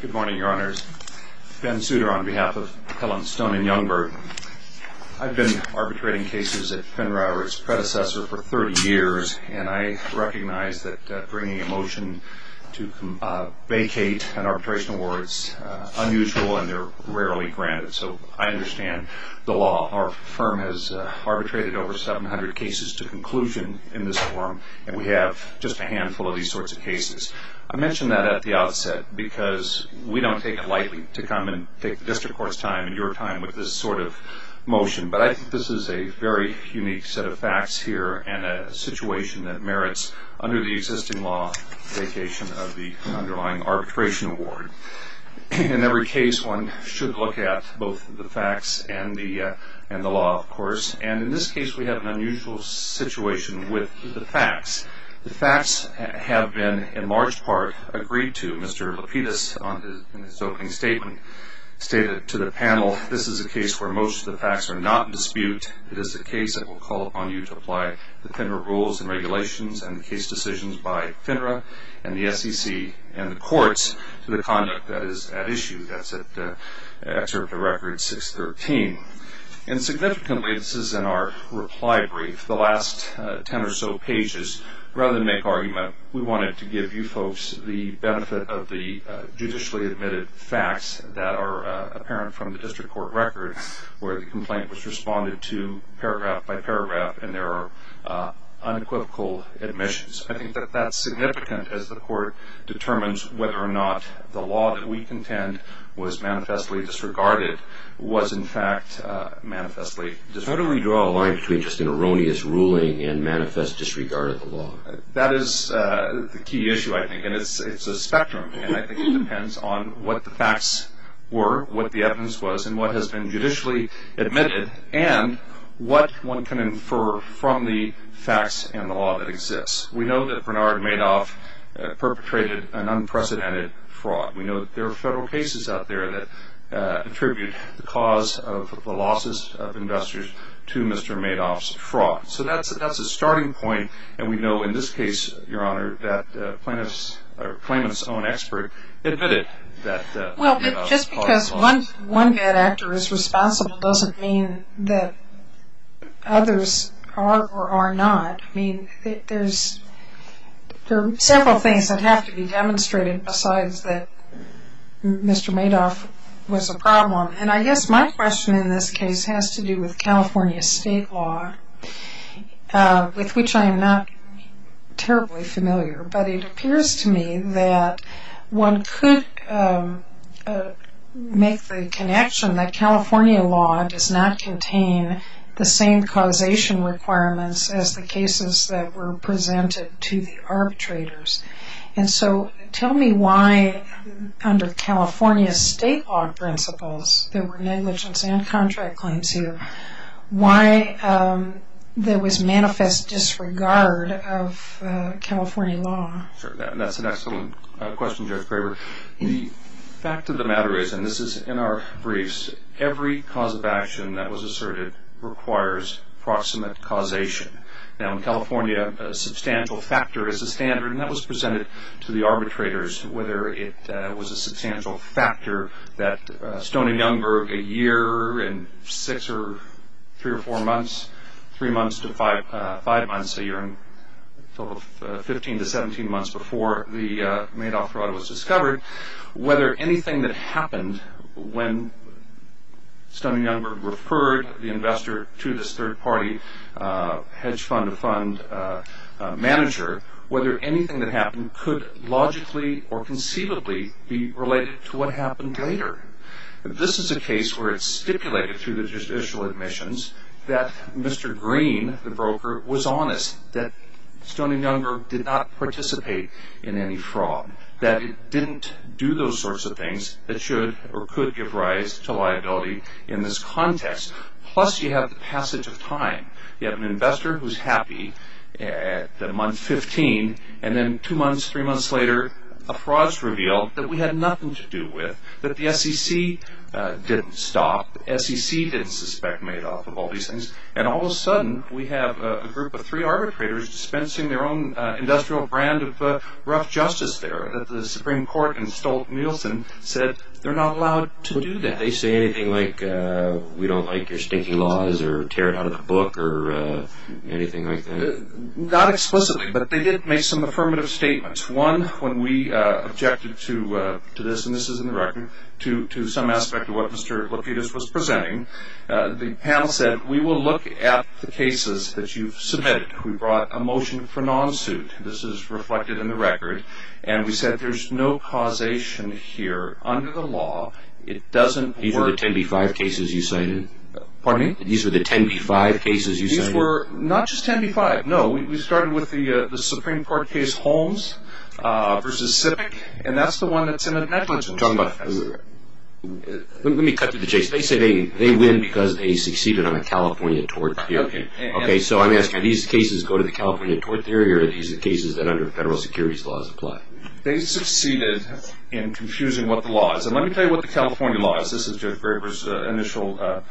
Good morning, Your Honors. Ben Souter on behalf of Helen Stone & Youngberg. I've been arbitrating cases at Penrowe, its predecessor, for 30 years, and I recognize that bringing a motion to vacate an arbitration award is unusual and they're rarely granted, so I understand the law. Our firm has arbitrated over 700 cases to conclusion in this forum, and I mentioned that at the outset because we don't take it lightly to come and take the district court's time and your time with this sort of motion, but I think this is a very unique set of facts here and a situation that merits, under the existing law, vacation of the underlying arbitration award. In every case, one should look at both the facts and the law, of course, and in this case we have an unusual situation with the facts. The facts have been, in large part, agreed to. Mr. Lapidus, in his opening statement, stated to the panel, this is a case where most of the facts are not in dispute. It is a case that will call upon you to apply the Penrowe rules and regulations and the case decisions by Penrowe and the SEC and the courts to the conduct that is at issue. That's at Excerpt of Record 613. And significantly, this is in our reply brief, the last ten or so pages, rather than make argument, we wanted to give you folks the benefit of the judicially admitted facts that are apparent from the district court record where the complaint was responded to paragraph by paragraph and there are unequivocal admissions. I think that that's significant as the court determines whether or not the law that we contend was manifestly disregarded was, in fact, manifestly disregarded. How do we draw a line between just an erroneous ruling and manifest disregard of the law? That is the key issue, I think, and it's a spectrum, and I think it depends on what the facts were, what the evidence was, and what has been judicially admitted and what one can infer from the facts and the law that exists. We know that Bernard Madoff perpetrated an unprecedented fraud. We know that there are federal cases out there that attribute the cause of the losses of investors to Mr. Madoff's fraud. So that's a starting point, and we know in this case, Your Honor, that claimant's own expert admitted that Madoff caused the losses. Well, just because one bad actor is responsible doesn't mean that others are or are not. I mean, there are several things that have to be demonstrated besides that Mr. Madoff was a problem, and I guess my question in this case has to do with California state law, with which I am not terribly familiar, but it appears to me that one could make the connection that California law does not contain the same causation requirements as the cases that were presented to the arbitrators. And so tell me why, under California state law principles, there were negligence and contract claims here, why there was manifest disregard of California law. That's an excellent question, Judge Graber. The fact of the matter is, and this is in our briefs, that every cause of action that was asserted requires proximate causation. Now, in California, a substantial factor is a standard, and that was presented to the arbitrators, whether it was a substantial factor that Stoney Youngberg, a year and six or three or four months, three months to five months, a year and a total of 15 to 17 months before the Madoff fraud was discovered, whether anything that happened when Stoney Youngberg referred the investor to this third-party hedge fund fund manager, whether anything that happened could logically or conceivably be related to what happened later. This is a case where it's stipulated through the judicial admissions that Mr. Green, the broker, was honest, that Stoney Youngberg did not participate in any fraud, that it didn't do those sorts of things that should or could give rise to liability in this context. Plus, you have the passage of time. You have an investor who's happy at the month 15, and then two months, three months later, a fraud is revealed that we had nothing to do with, that the SEC didn't stop, that the SEC didn't suspect Madoff of all these things. And all of a sudden, we have a group of three arbitrators dispensing their own industrial brand of rough justice there. The Supreme Court in Stolt-Nielsen said they're not allowed to do that. Did they say anything like, we don't like your stinky laws or tear it out of the book or anything like that? Not explicitly, but they did make some affirmative statements. One, when we objected to this, and this is in the record, to some aspect of what Mr. Lapidus was presenting, the panel said, we will look at the cases that you've submitted. We brought a motion for non-suit. This is reflected in the record. And we said there's no causation here under the law. It doesn't work. These are the 10b-5 cases you cited? Pardon me? These are the 10b-5 cases you cited? These were not just 10b-5. No, we started with the Supreme Court case Holmes v. Sipic, and that's the one that's in the negligence report. Let me cut to the chase. They say they win because they succeeded on a California tort theory. Okay. So I'm asking, do these cases go to the California tort theory, or are these the cases that under federal securities laws apply? They succeeded in confusing what the law is. And let me tell you what the California law is. This is Jeff Graber's initial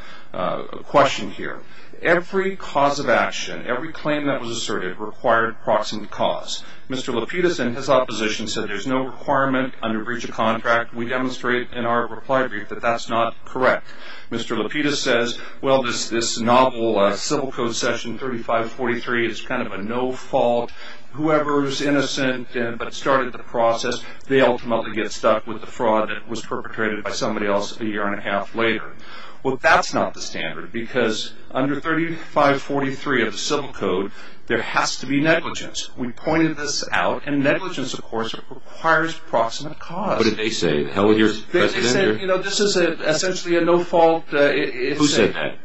question here. Every cause of action, every claim that was asserted required proximate cause. Mr. Lapidus and his opposition said there's no requirement under breach of contract. We demonstrate in our reply brief that that's not correct. Mr. Lapidus says, well, this novel civil code section 3543 is kind of a no-fault. Whoever's innocent but started the process, they ultimately get stuck with the fraud that was perpetrated by somebody else a year and a half later. Well, that's not the standard, because under 3543 of the civil code, there has to be negligence. We pointed this out, and negligence, of course, requires proximate cause. What did they say? They said, you know, this is essentially a no-fault. Who said that?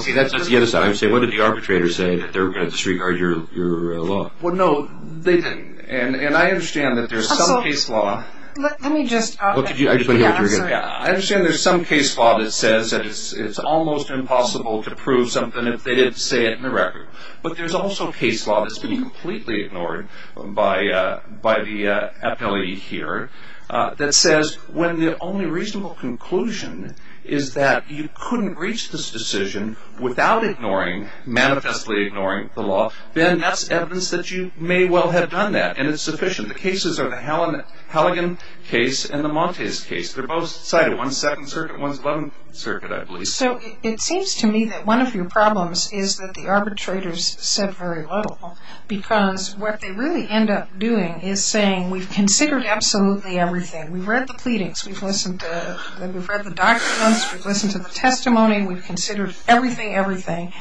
Okay, that's the other side. I'm saying, what did the arbitrators say, that they were going to disregard your law? Well, no, they didn't. And I understand that there's some case law. I understand there's some case law that says it's almost impossible to prove something if they didn't say it in the record. But there's also case law that's been completely ignored by the appellee here that says when the only reasonable conclusion is that you couldn't reach this decision without ignoring, manifestly ignoring the law, then that's evidence that you may well have done that, and it's sufficient. The cases are the Halligan case and the Montes case. They're both cited. One's Second Circuit. One's Eleventh Circuit, I believe. So it seems to me that one of your problems is that the arbitrators said very little, because what they really end up doing is saying, we've considered absolutely everything. We've read the pleadings. We've read the documents. We've listened to the testimony. We've considered everything, everything,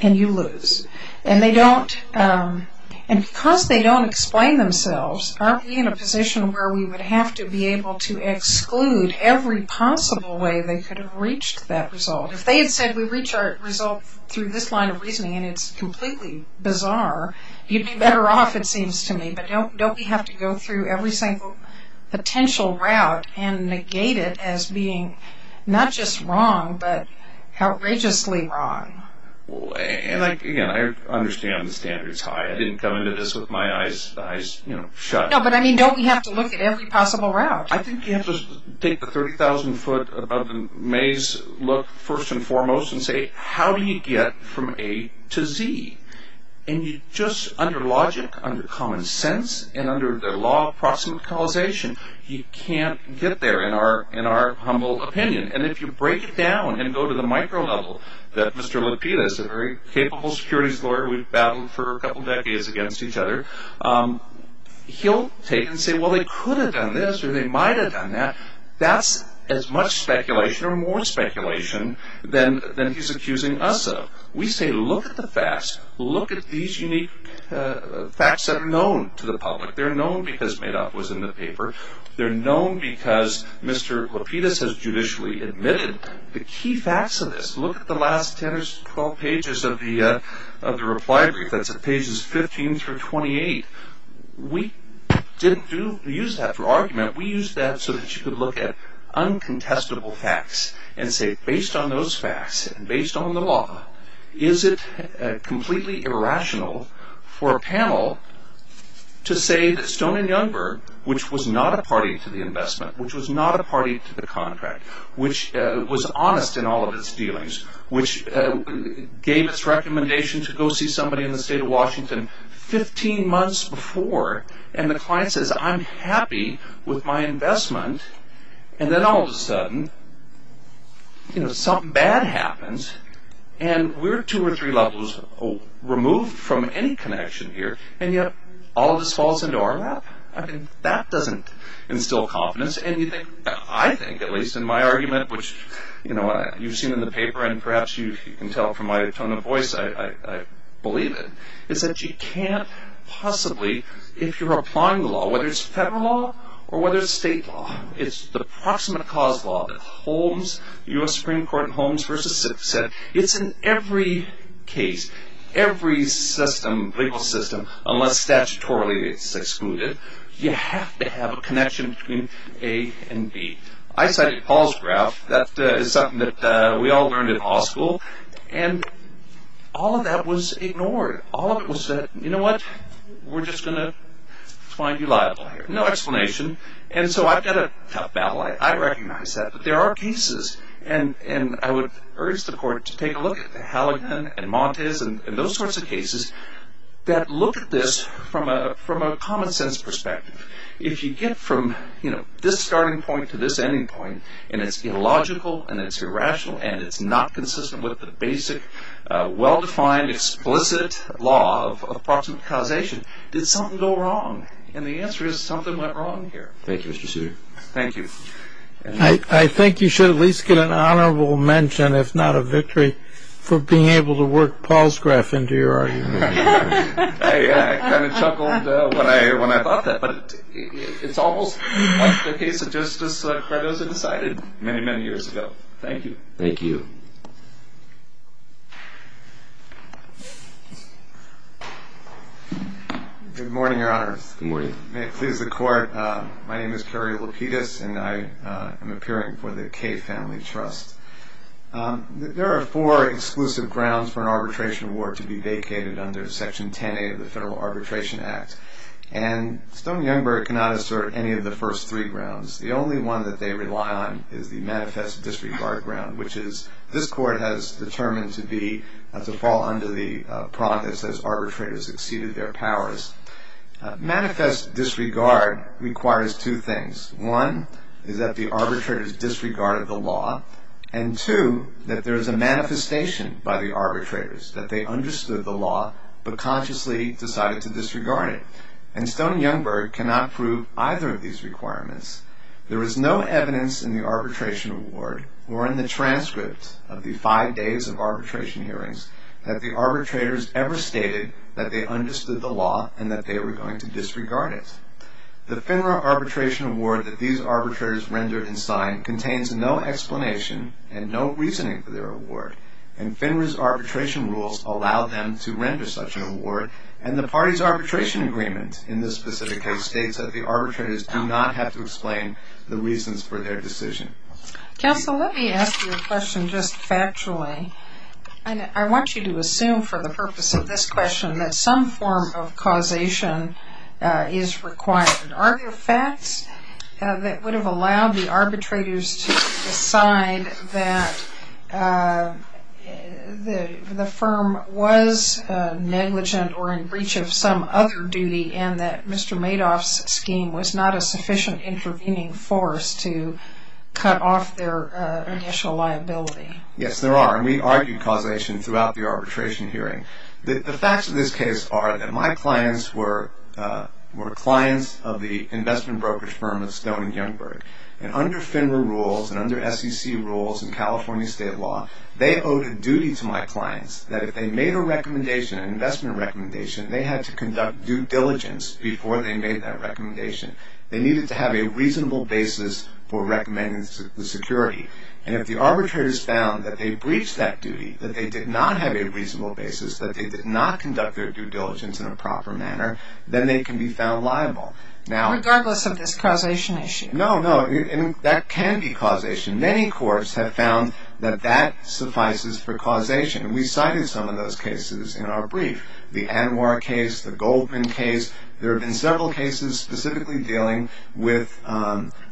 and you lose. And because they don't explain themselves, aren't we in a position where we would have to be able to exclude every possible way they could have reached that result? If they had said we reach our result through this line of reasoning and it's completely bizarre, you'd be better off, it seems to me. But don't we have to go through every single potential route and negate it as being not just wrong but outrageously wrong? And, again, I understand the standard's high. I didn't come into this with my eyes shut. No, but, I mean, don't we have to look at every possible route? I think you have to take the 30,000 foot above the maze look, first and foremost, and say, how do you get from A to Z? And you just, under logic, under common sense, and under the law of proximate causation, you can't get there, in our humble opinion. And if you break it down and go to the micro level that Mr. Lapidus, a very capable securities lawyer we've battled for a couple decades against each other, he'll take and say, well, they could have done this or they might have done that. That's as much speculation or more speculation than he's accusing us of. We say, look at the facts. Look at these unique facts that are known to the public. They're known because Madoff was in the paper. They're known because Mr. Lapidus has judicially admitted the key facts of this. Look at the last 10 or 12 pages of the reply brief. That's at pages 15 through 28. We didn't use that for argument. We used that so that you could look at uncontestable facts and say, based on those facts and based on the law, is it completely irrational for a panel to say that Stone and Youngberg, which was not a party to the investment, which was not a party to the contract, which was honest in all of its dealings, which gave its recommendation to go see somebody in the state of Washington 15 months before, and the client says, I'm happy with my investment, and then all of a sudden something bad happens, and we're two or three levels removed from any connection here, and yet all of this falls into our lap? I mean, that doesn't instill confidence. And you think, I think at least in my argument, which you've seen in the paper and perhaps you can tell from my tone of voice, I believe it, is that you can't possibly, if you're applying the law, whether it's federal law or whether it's state law, it's the proximate cause law that the U.S. Supreme Court in Holmes v. Sixth said, it's in every case, every system, legal system, unless statutorily it's excluded, you have to have a connection between A and B. I cited Paul's graph. That is something that we all learned in law school, and all of that was ignored. All of it was said, you know what? We're just going to find you liable here. No explanation. And so I've got a tough battle. I recognize that, but there are cases, and I would urge the Court to take a look at Halligan and Montes and those sorts of cases that look at this from a common-sense perspective. If you get from, you know, this starting point to this ending point, and it's illogical and it's irrational and it's not consistent with the basic, well-defined, explicit law of proximate causation, did something go wrong? And the answer is something went wrong here. Thank you, Mr. Suiter. Thank you. I think you should at least get an honorable mention, if not a victory, for being able to work Paul's graph into your argument. I kind of chuckled when I thought that, but it's almost like the case of Justice Cardoza decided many, many years ago. Thank you. Thank you. Good morning, Your Honor. Good morning. May it please the Court. My name is Kerry Lapidus, and I am appearing for the Kaye Family Trust. There are four exclusive grounds for an arbitration award to be vacated under Section 10A of the Federal Arbitration Act, and Stone and Youngberg cannot assert any of the first three grounds. The only one that they rely on is the manifest disregard ground, which this Court has determined to fall under the prompt that says arbitrators exceeded their powers. Manifest disregard requires two things. One is that the arbitrators disregarded the law, and two, that there is a manifestation by the arbitrators that they understood the law but consciously decided to disregard it. And Stone and Youngberg cannot prove either of these requirements. There is no evidence in the arbitration award or in the transcript of the five days of arbitration hearings that the arbitrators ever stated that they understood the law and that they were going to disregard it. The FINRA arbitration award that these arbitrators rendered and signed contains no explanation and no reasoning for their award, and FINRA's arbitration rules allow them to render such an award, and the party's arbitration agreement in this specific case states that the arbitrators do not have to explain the reasons for their decision. Counsel, let me ask you a question just factually, and I want you to assume for the purpose of this question that some form of causation is required. Are there facts that would have allowed the arbitrators to decide that the firm was negligent or in breach of some other duty and that Mr. Madoff's scheme was not a sufficient intervening force to cut off their initial liability? Yes, there are, and we argued causation throughout the arbitration hearing. The facts of this case are that my clients were clients of the investment brokerage firm of Stone and Youngberg, and under FINRA rules and under SEC rules and California state law, they owed a duty to my clients that if they made a recommendation, an investment recommendation, they had to conduct due diligence before they made that recommendation. They needed to have a reasonable basis for recommending the security, and if the arbitrators found that they breached that duty, that they did not have a reasonable basis, that they did not conduct their due diligence in a proper manner, then they can be found liable. Regardless of this causation issue? No, no, and that can be causation. Many courts have found that that suffices for causation, and we cited some of those cases in our brief. The Anwar case, the Goldman case, there have been several cases specifically dealing with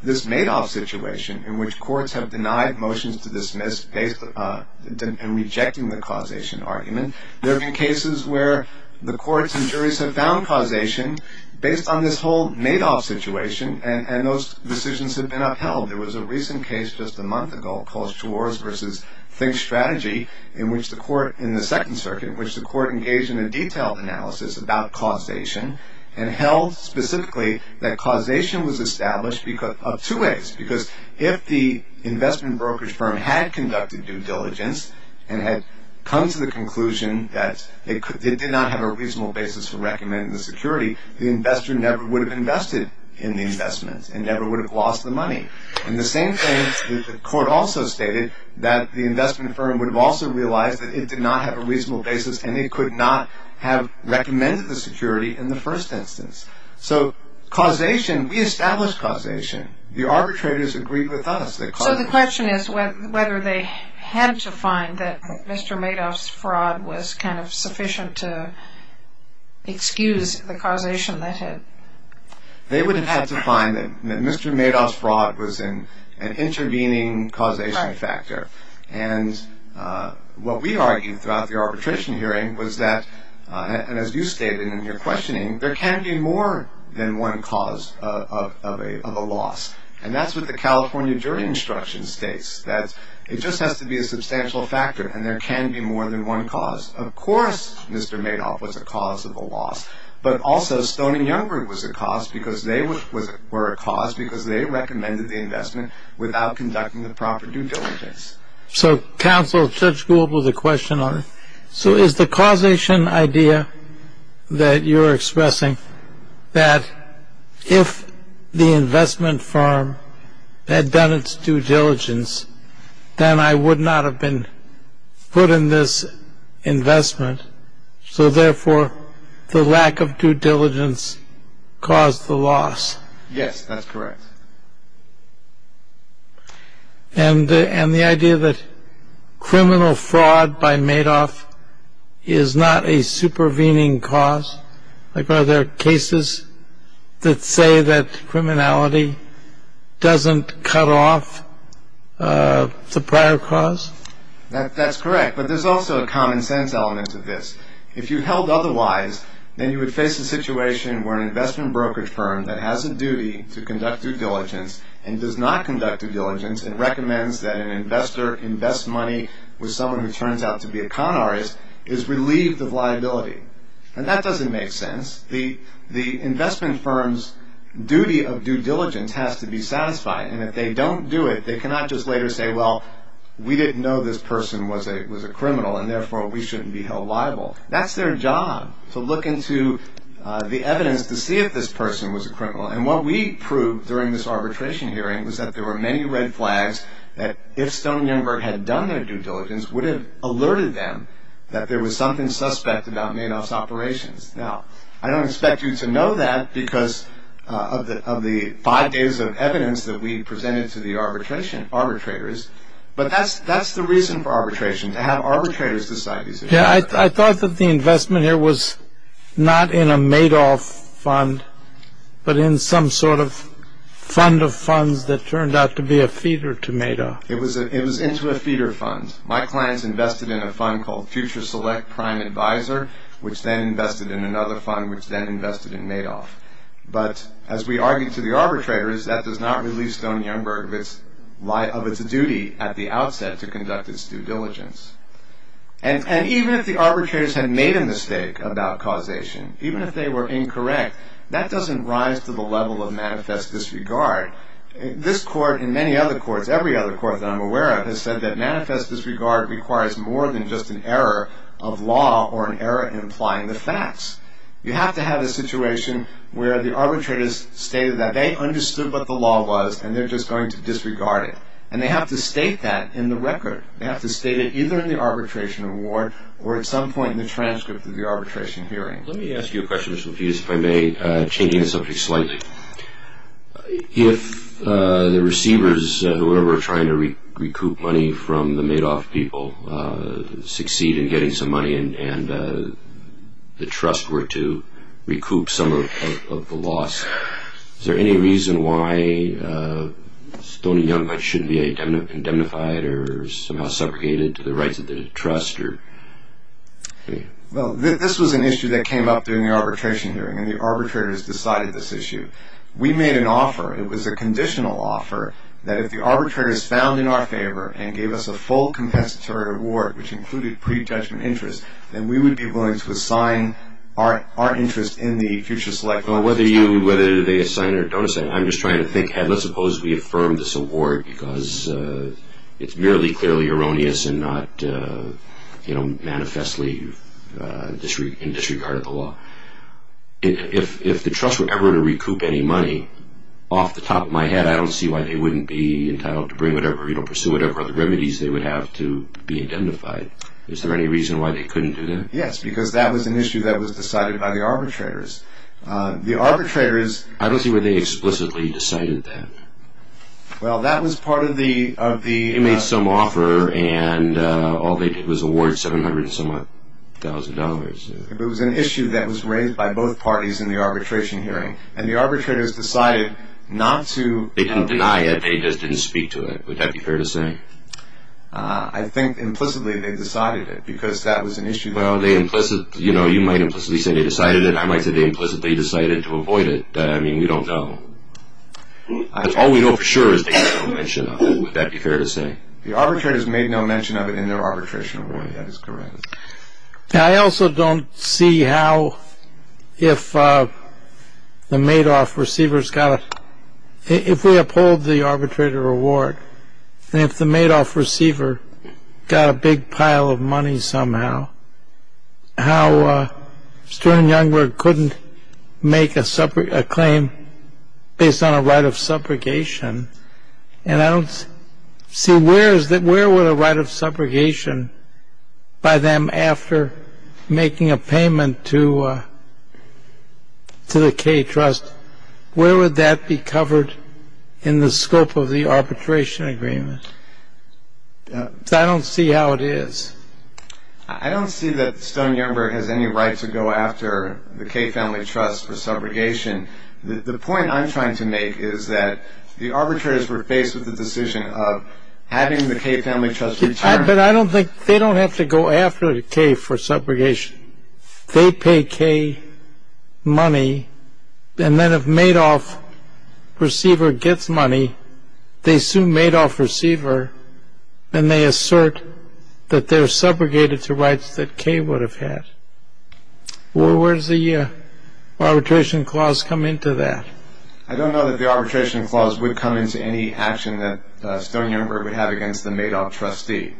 this Madoff situation in which courts have denied motions to dismiss and rejecting the causation argument. There have been cases where the courts and juries have found causation based on this whole Madoff situation, and those decisions have been upheld. There was a recent case just a month ago called Schwarz v. Think Strategy in which the court, in the Second Circuit, in which the court engaged in a detailed analysis about causation and held specifically that causation was established of two ways because if the investment brokerage firm had conducted due diligence and had come to the conclusion that it did not have a reasonable basis for recommending the security, the investor never would have invested in the investment and never would have lost the money. And the same thing, the court also stated, that the investment firm would have also realized that it did not have a reasonable basis and it could not have recommended the security in the first instance. So, causation, we established causation. The arbitrators agreed with us that causation... So the question is whether they had to find that Mr. Madoff's fraud was kind of sufficient to excuse the causation that had... They would have had to find that Mr. Madoff's fraud was an intervening causation factor. And what we argued throughout the arbitration hearing was that, and as you stated in your questioning, there can be more than one cause of a loss. And that's what the California jury instruction states, that it just has to be a substantial factor and there can be more than one cause. Of course, Mr. Madoff was a cause of a loss, but also Stone and Youngberg were a cause because they recommended the investment without conducting the proper due diligence. So, counsel, Judge Gould has a question on it. So is the causation idea that you're expressing that if the investment firm had done its due diligence, then I would not have been put in this investment, so therefore the lack of due diligence caused the loss? Yes, that's correct. And the idea that criminal fraud by Madoff is not a supervening cause? Like, are there cases that say that criminality doesn't cut off the prior cause? That's correct, but there's also a common sense element to this. If you held otherwise, then you would face a situation where an investment brokerage firm that has a duty to conduct due diligence and does not conduct due diligence and recommends that an investor invest money with someone who turns out to be a con artist is relieved of liability. And that doesn't make sense. The investment firm's duty of due diligence has to be satisfied, and if they don't do it, they cannot just later say, well, we didn't know this person was a criminal and therefore we shouldn't be held liable. That's their job, to look into the evidence to see if this person was a criminal. And what we proved during this arbitration hearing was that there were many red flags that if Stone and Youngberg had done their due diligence, would have alerted them that there was something suspect about Madoff's operations. Now, I don't expect you to know that because of the five days of evidence that we presented to the arbitrators, but that's the reason for arbitration, to have arbitrators decide these things. Yeah, I thought that the investment here was not in a Madoff fund, but in some sort of fund of funds that turned out to be a feeder to Madoff. It was into a feeder fund. My clients invested in a fund called Future Select Prime Advisor, which then invested in another fund, which then invested in Madoff. But as we argued to the arbitrators, that does not relieve Stone and Youngberg of its duty at the outset to conduct its due diligence. And even if the arbitrators had made a mistake about causation, even if they were incorrect, that doesn't rise to the level of manifest disregard. This court, and many other courts, every other court that I'm aware of, has said that manifest disregard requires more than just an error of law or an error in applying the facts. You have to have a situation where the arbitrators stated that they understood what the law was and they're just going to disregard it. And they have to state that in the record. They have to state it either in the arbitration award or at some point in the transcript of the arbitration hearing. Let me ask you a question, Mr. Lapidus, if I may, changing the subject slightly. If the receivers, whoever are trying to recoup money from the Madoff people, succeed in getting some money and the trust were to recoup some of the loss, is there any reason why Stone and Youngberg shouldn't be indemnified or somehow segregated to the rights of the trust? This was an issue that came up during the arbitration hearing and the arbitrators decided this issue. We made an offer. It was a conditional offer that if the arbitrators found in our favor and gave us a full compensatory award, which included pre-judgment interest, then we would be willing to assign our interest in the future selection. Whether they assign or don't assign, I'm just trying to think, and let's suppose we affirm this award because it's merely clearly erroneous and not manifestly in disregard of the law. If the trust were ever to recoup any money, off the top of my head, I don't see why they wouldn't be entitled to pursue whatever other remedies they would have to be indemnified. Is there any reason why they couldn't do that? Yes, because that was an issue that was decided by the arbitrators. I don't see why they explicitly decided that. Well, that was part of the... They made some offer and all they did was award $700,000. It was an issue that was raised by both parties in the arbitration hearing and the arbitrators decided not to... They didn't deny it, they just didn't speak to it. Would that be fair to say? I think implicitly they decided it because that was an issue... Well, you might implicitly say they decided it and I might say they implicitly decided to avoid it. I mean, we don't know. All we know for sure is they made no mention of it. Would that be fair to say? The arbitrators made no mention of it in their arbitration award, that is correct. I also don't see how if the Madoff receivers got... If we uphold the arbitrator award and if the Madoff receiver got a big pile of money somehow, how Stern and Youngberg couldn't make a claim based on a right of subrogation and I don't see where would a right of subrogation by them after making a payment to the Kaye Trust, where would that be covered in the scope of the arbitration agreement? I don't see how it is. I don't see that Stern and Youngberg has any right to go after the Kaye Family Trust for subrogation. The point I'm trying to make is that the arbitrators were faced with the decision of having the Kaye Family Trust return... But I don't think they don't have to go after the Kaye for subrogation. They pay Kaye money and then if Madoff receiver gets money, they sue Madoff receiver and they assert that they're subrogated to rights that Kaye would have had. Where does the arbitration clause come into that? I don't know that the arbitration clause would come into any action that Stern and Youngberg would have against the Madoff trustee.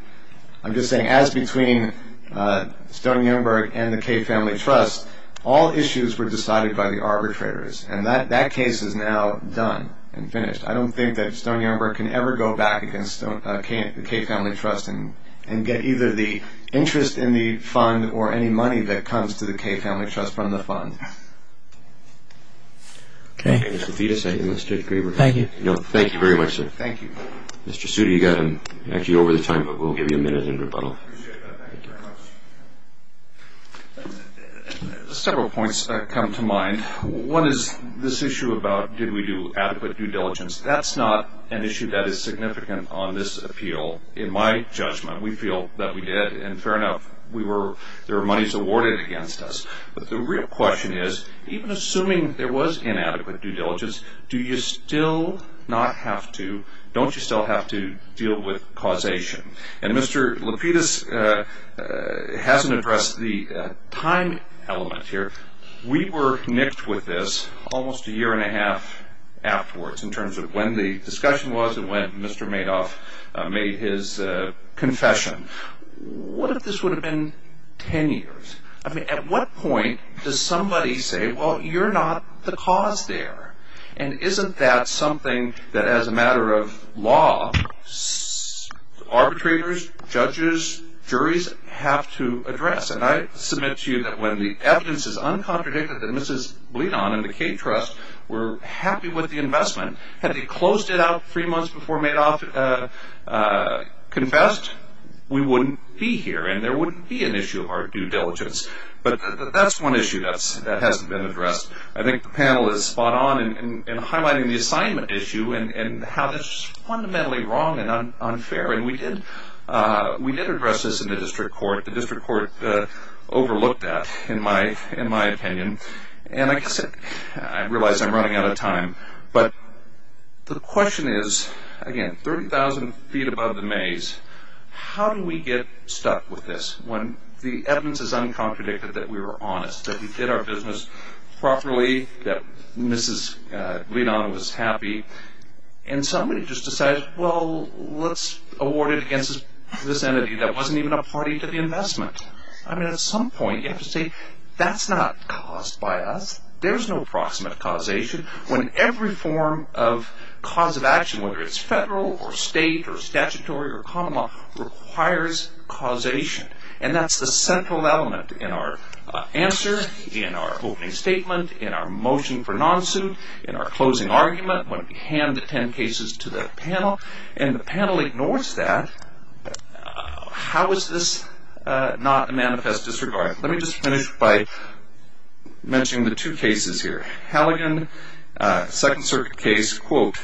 I'm just saying as between Stern and Youngberg and the Kaye Family Trust, all issues were decided by the arbitrators and that case is now done and finished. I don't think that Stern and Youngberg can ever go back against the Kaye Family Trust and get either the interest in the fund or any money that comes to the Kaye Family Trust from the fund. Several points come to mind. One is this issue about did we do adequate due diligence. That's not an issue that is significant on this appeal. In my judgment, we feel that we did and fair enough, there were monies awarded against us. But the real question is, even assuming there was inadequate due diligence, don't you still have to deal with causation? And Mr. Lapidus hasn't addressed the time element here. We were nixed with this almost a year and a half afterwards in terms of when the discussion was and when Mr. Madoff made his confession. What if this would have been ten years? At what point does somebody say, well, you're not the cause there? And isn't that something that as a matter of law, arbitrators, judges, juries have to address? And I submit to you that when the evidence is uncontradicted that Mrs. Bledon and the Kaye Trust were happy with the investment, had they closed it out three months before Madoff confessed, we wouldn't be here and there wouldn't be an issue of our due diligence. But that's one issue that hasn't been addressed. I think the panel is spot on in highlighting the assignment issue and how this is fundamentally wrong and unfair. And we did address this in the district court. Overlooked that, in my opinion. And I realize I'm running out of time. But the question is, again, 30,000 feet above the maze, how do we get stuck with this when the evidence is uncontradicted that we were honest, that we did our business properly, that Mrs. Bledon was happy, and somebody just decides, well, let's award it against this entity that wasn't even a party to the investment. I mean, at some point you have to say, that's not caused by us. There's no proximate causation when every form of cause of action, whether it's federal or state or statutory or common law, requires causation. And that's the central element in our answer, in our opening statement, in our motion for non-suit, in our closing argument when we hand the 10 cases to the panel. And the panel ignores that. How is this not a manifest disregard? Let me just finish by mentioning the two cases here. Halligan, Second Circuit case, quote,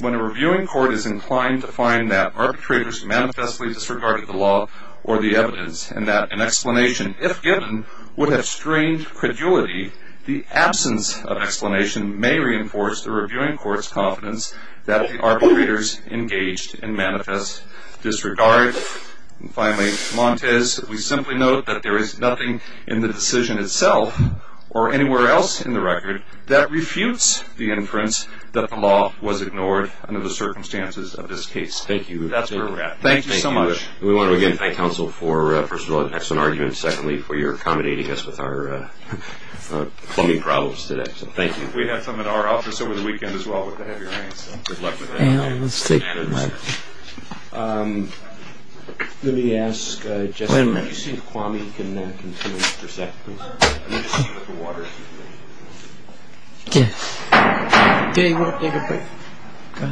when a reviewing court is inclined to find that arbitrators manifestly disregarded the law or the evidence and that an explanation, if given, would have strained credulity, the absence of explanation may reinforce the reviewing court's confidence that the arbitrators engaged in manifest disregard. And finally, Montes, we simply note that there is nothing in the decision itself or anywhere else in the record that refutes the inference that the law was ignored under the circumstances of this case. Thank you. That's where we're at. Thank you so much. We want to again thank counsel for, first of all, an excellent argument. Secondly, for your accommodating us with our clummy problems today. Thank you. We have some in our office over the weekend as well. Good luck with that. Thank you. Let's take a mic. Let me ask, Jesse, can you see if Kwame can continue for a second, please? I need to see if there's a water issue. Yes. Dave, you want to take a break? Go ahead.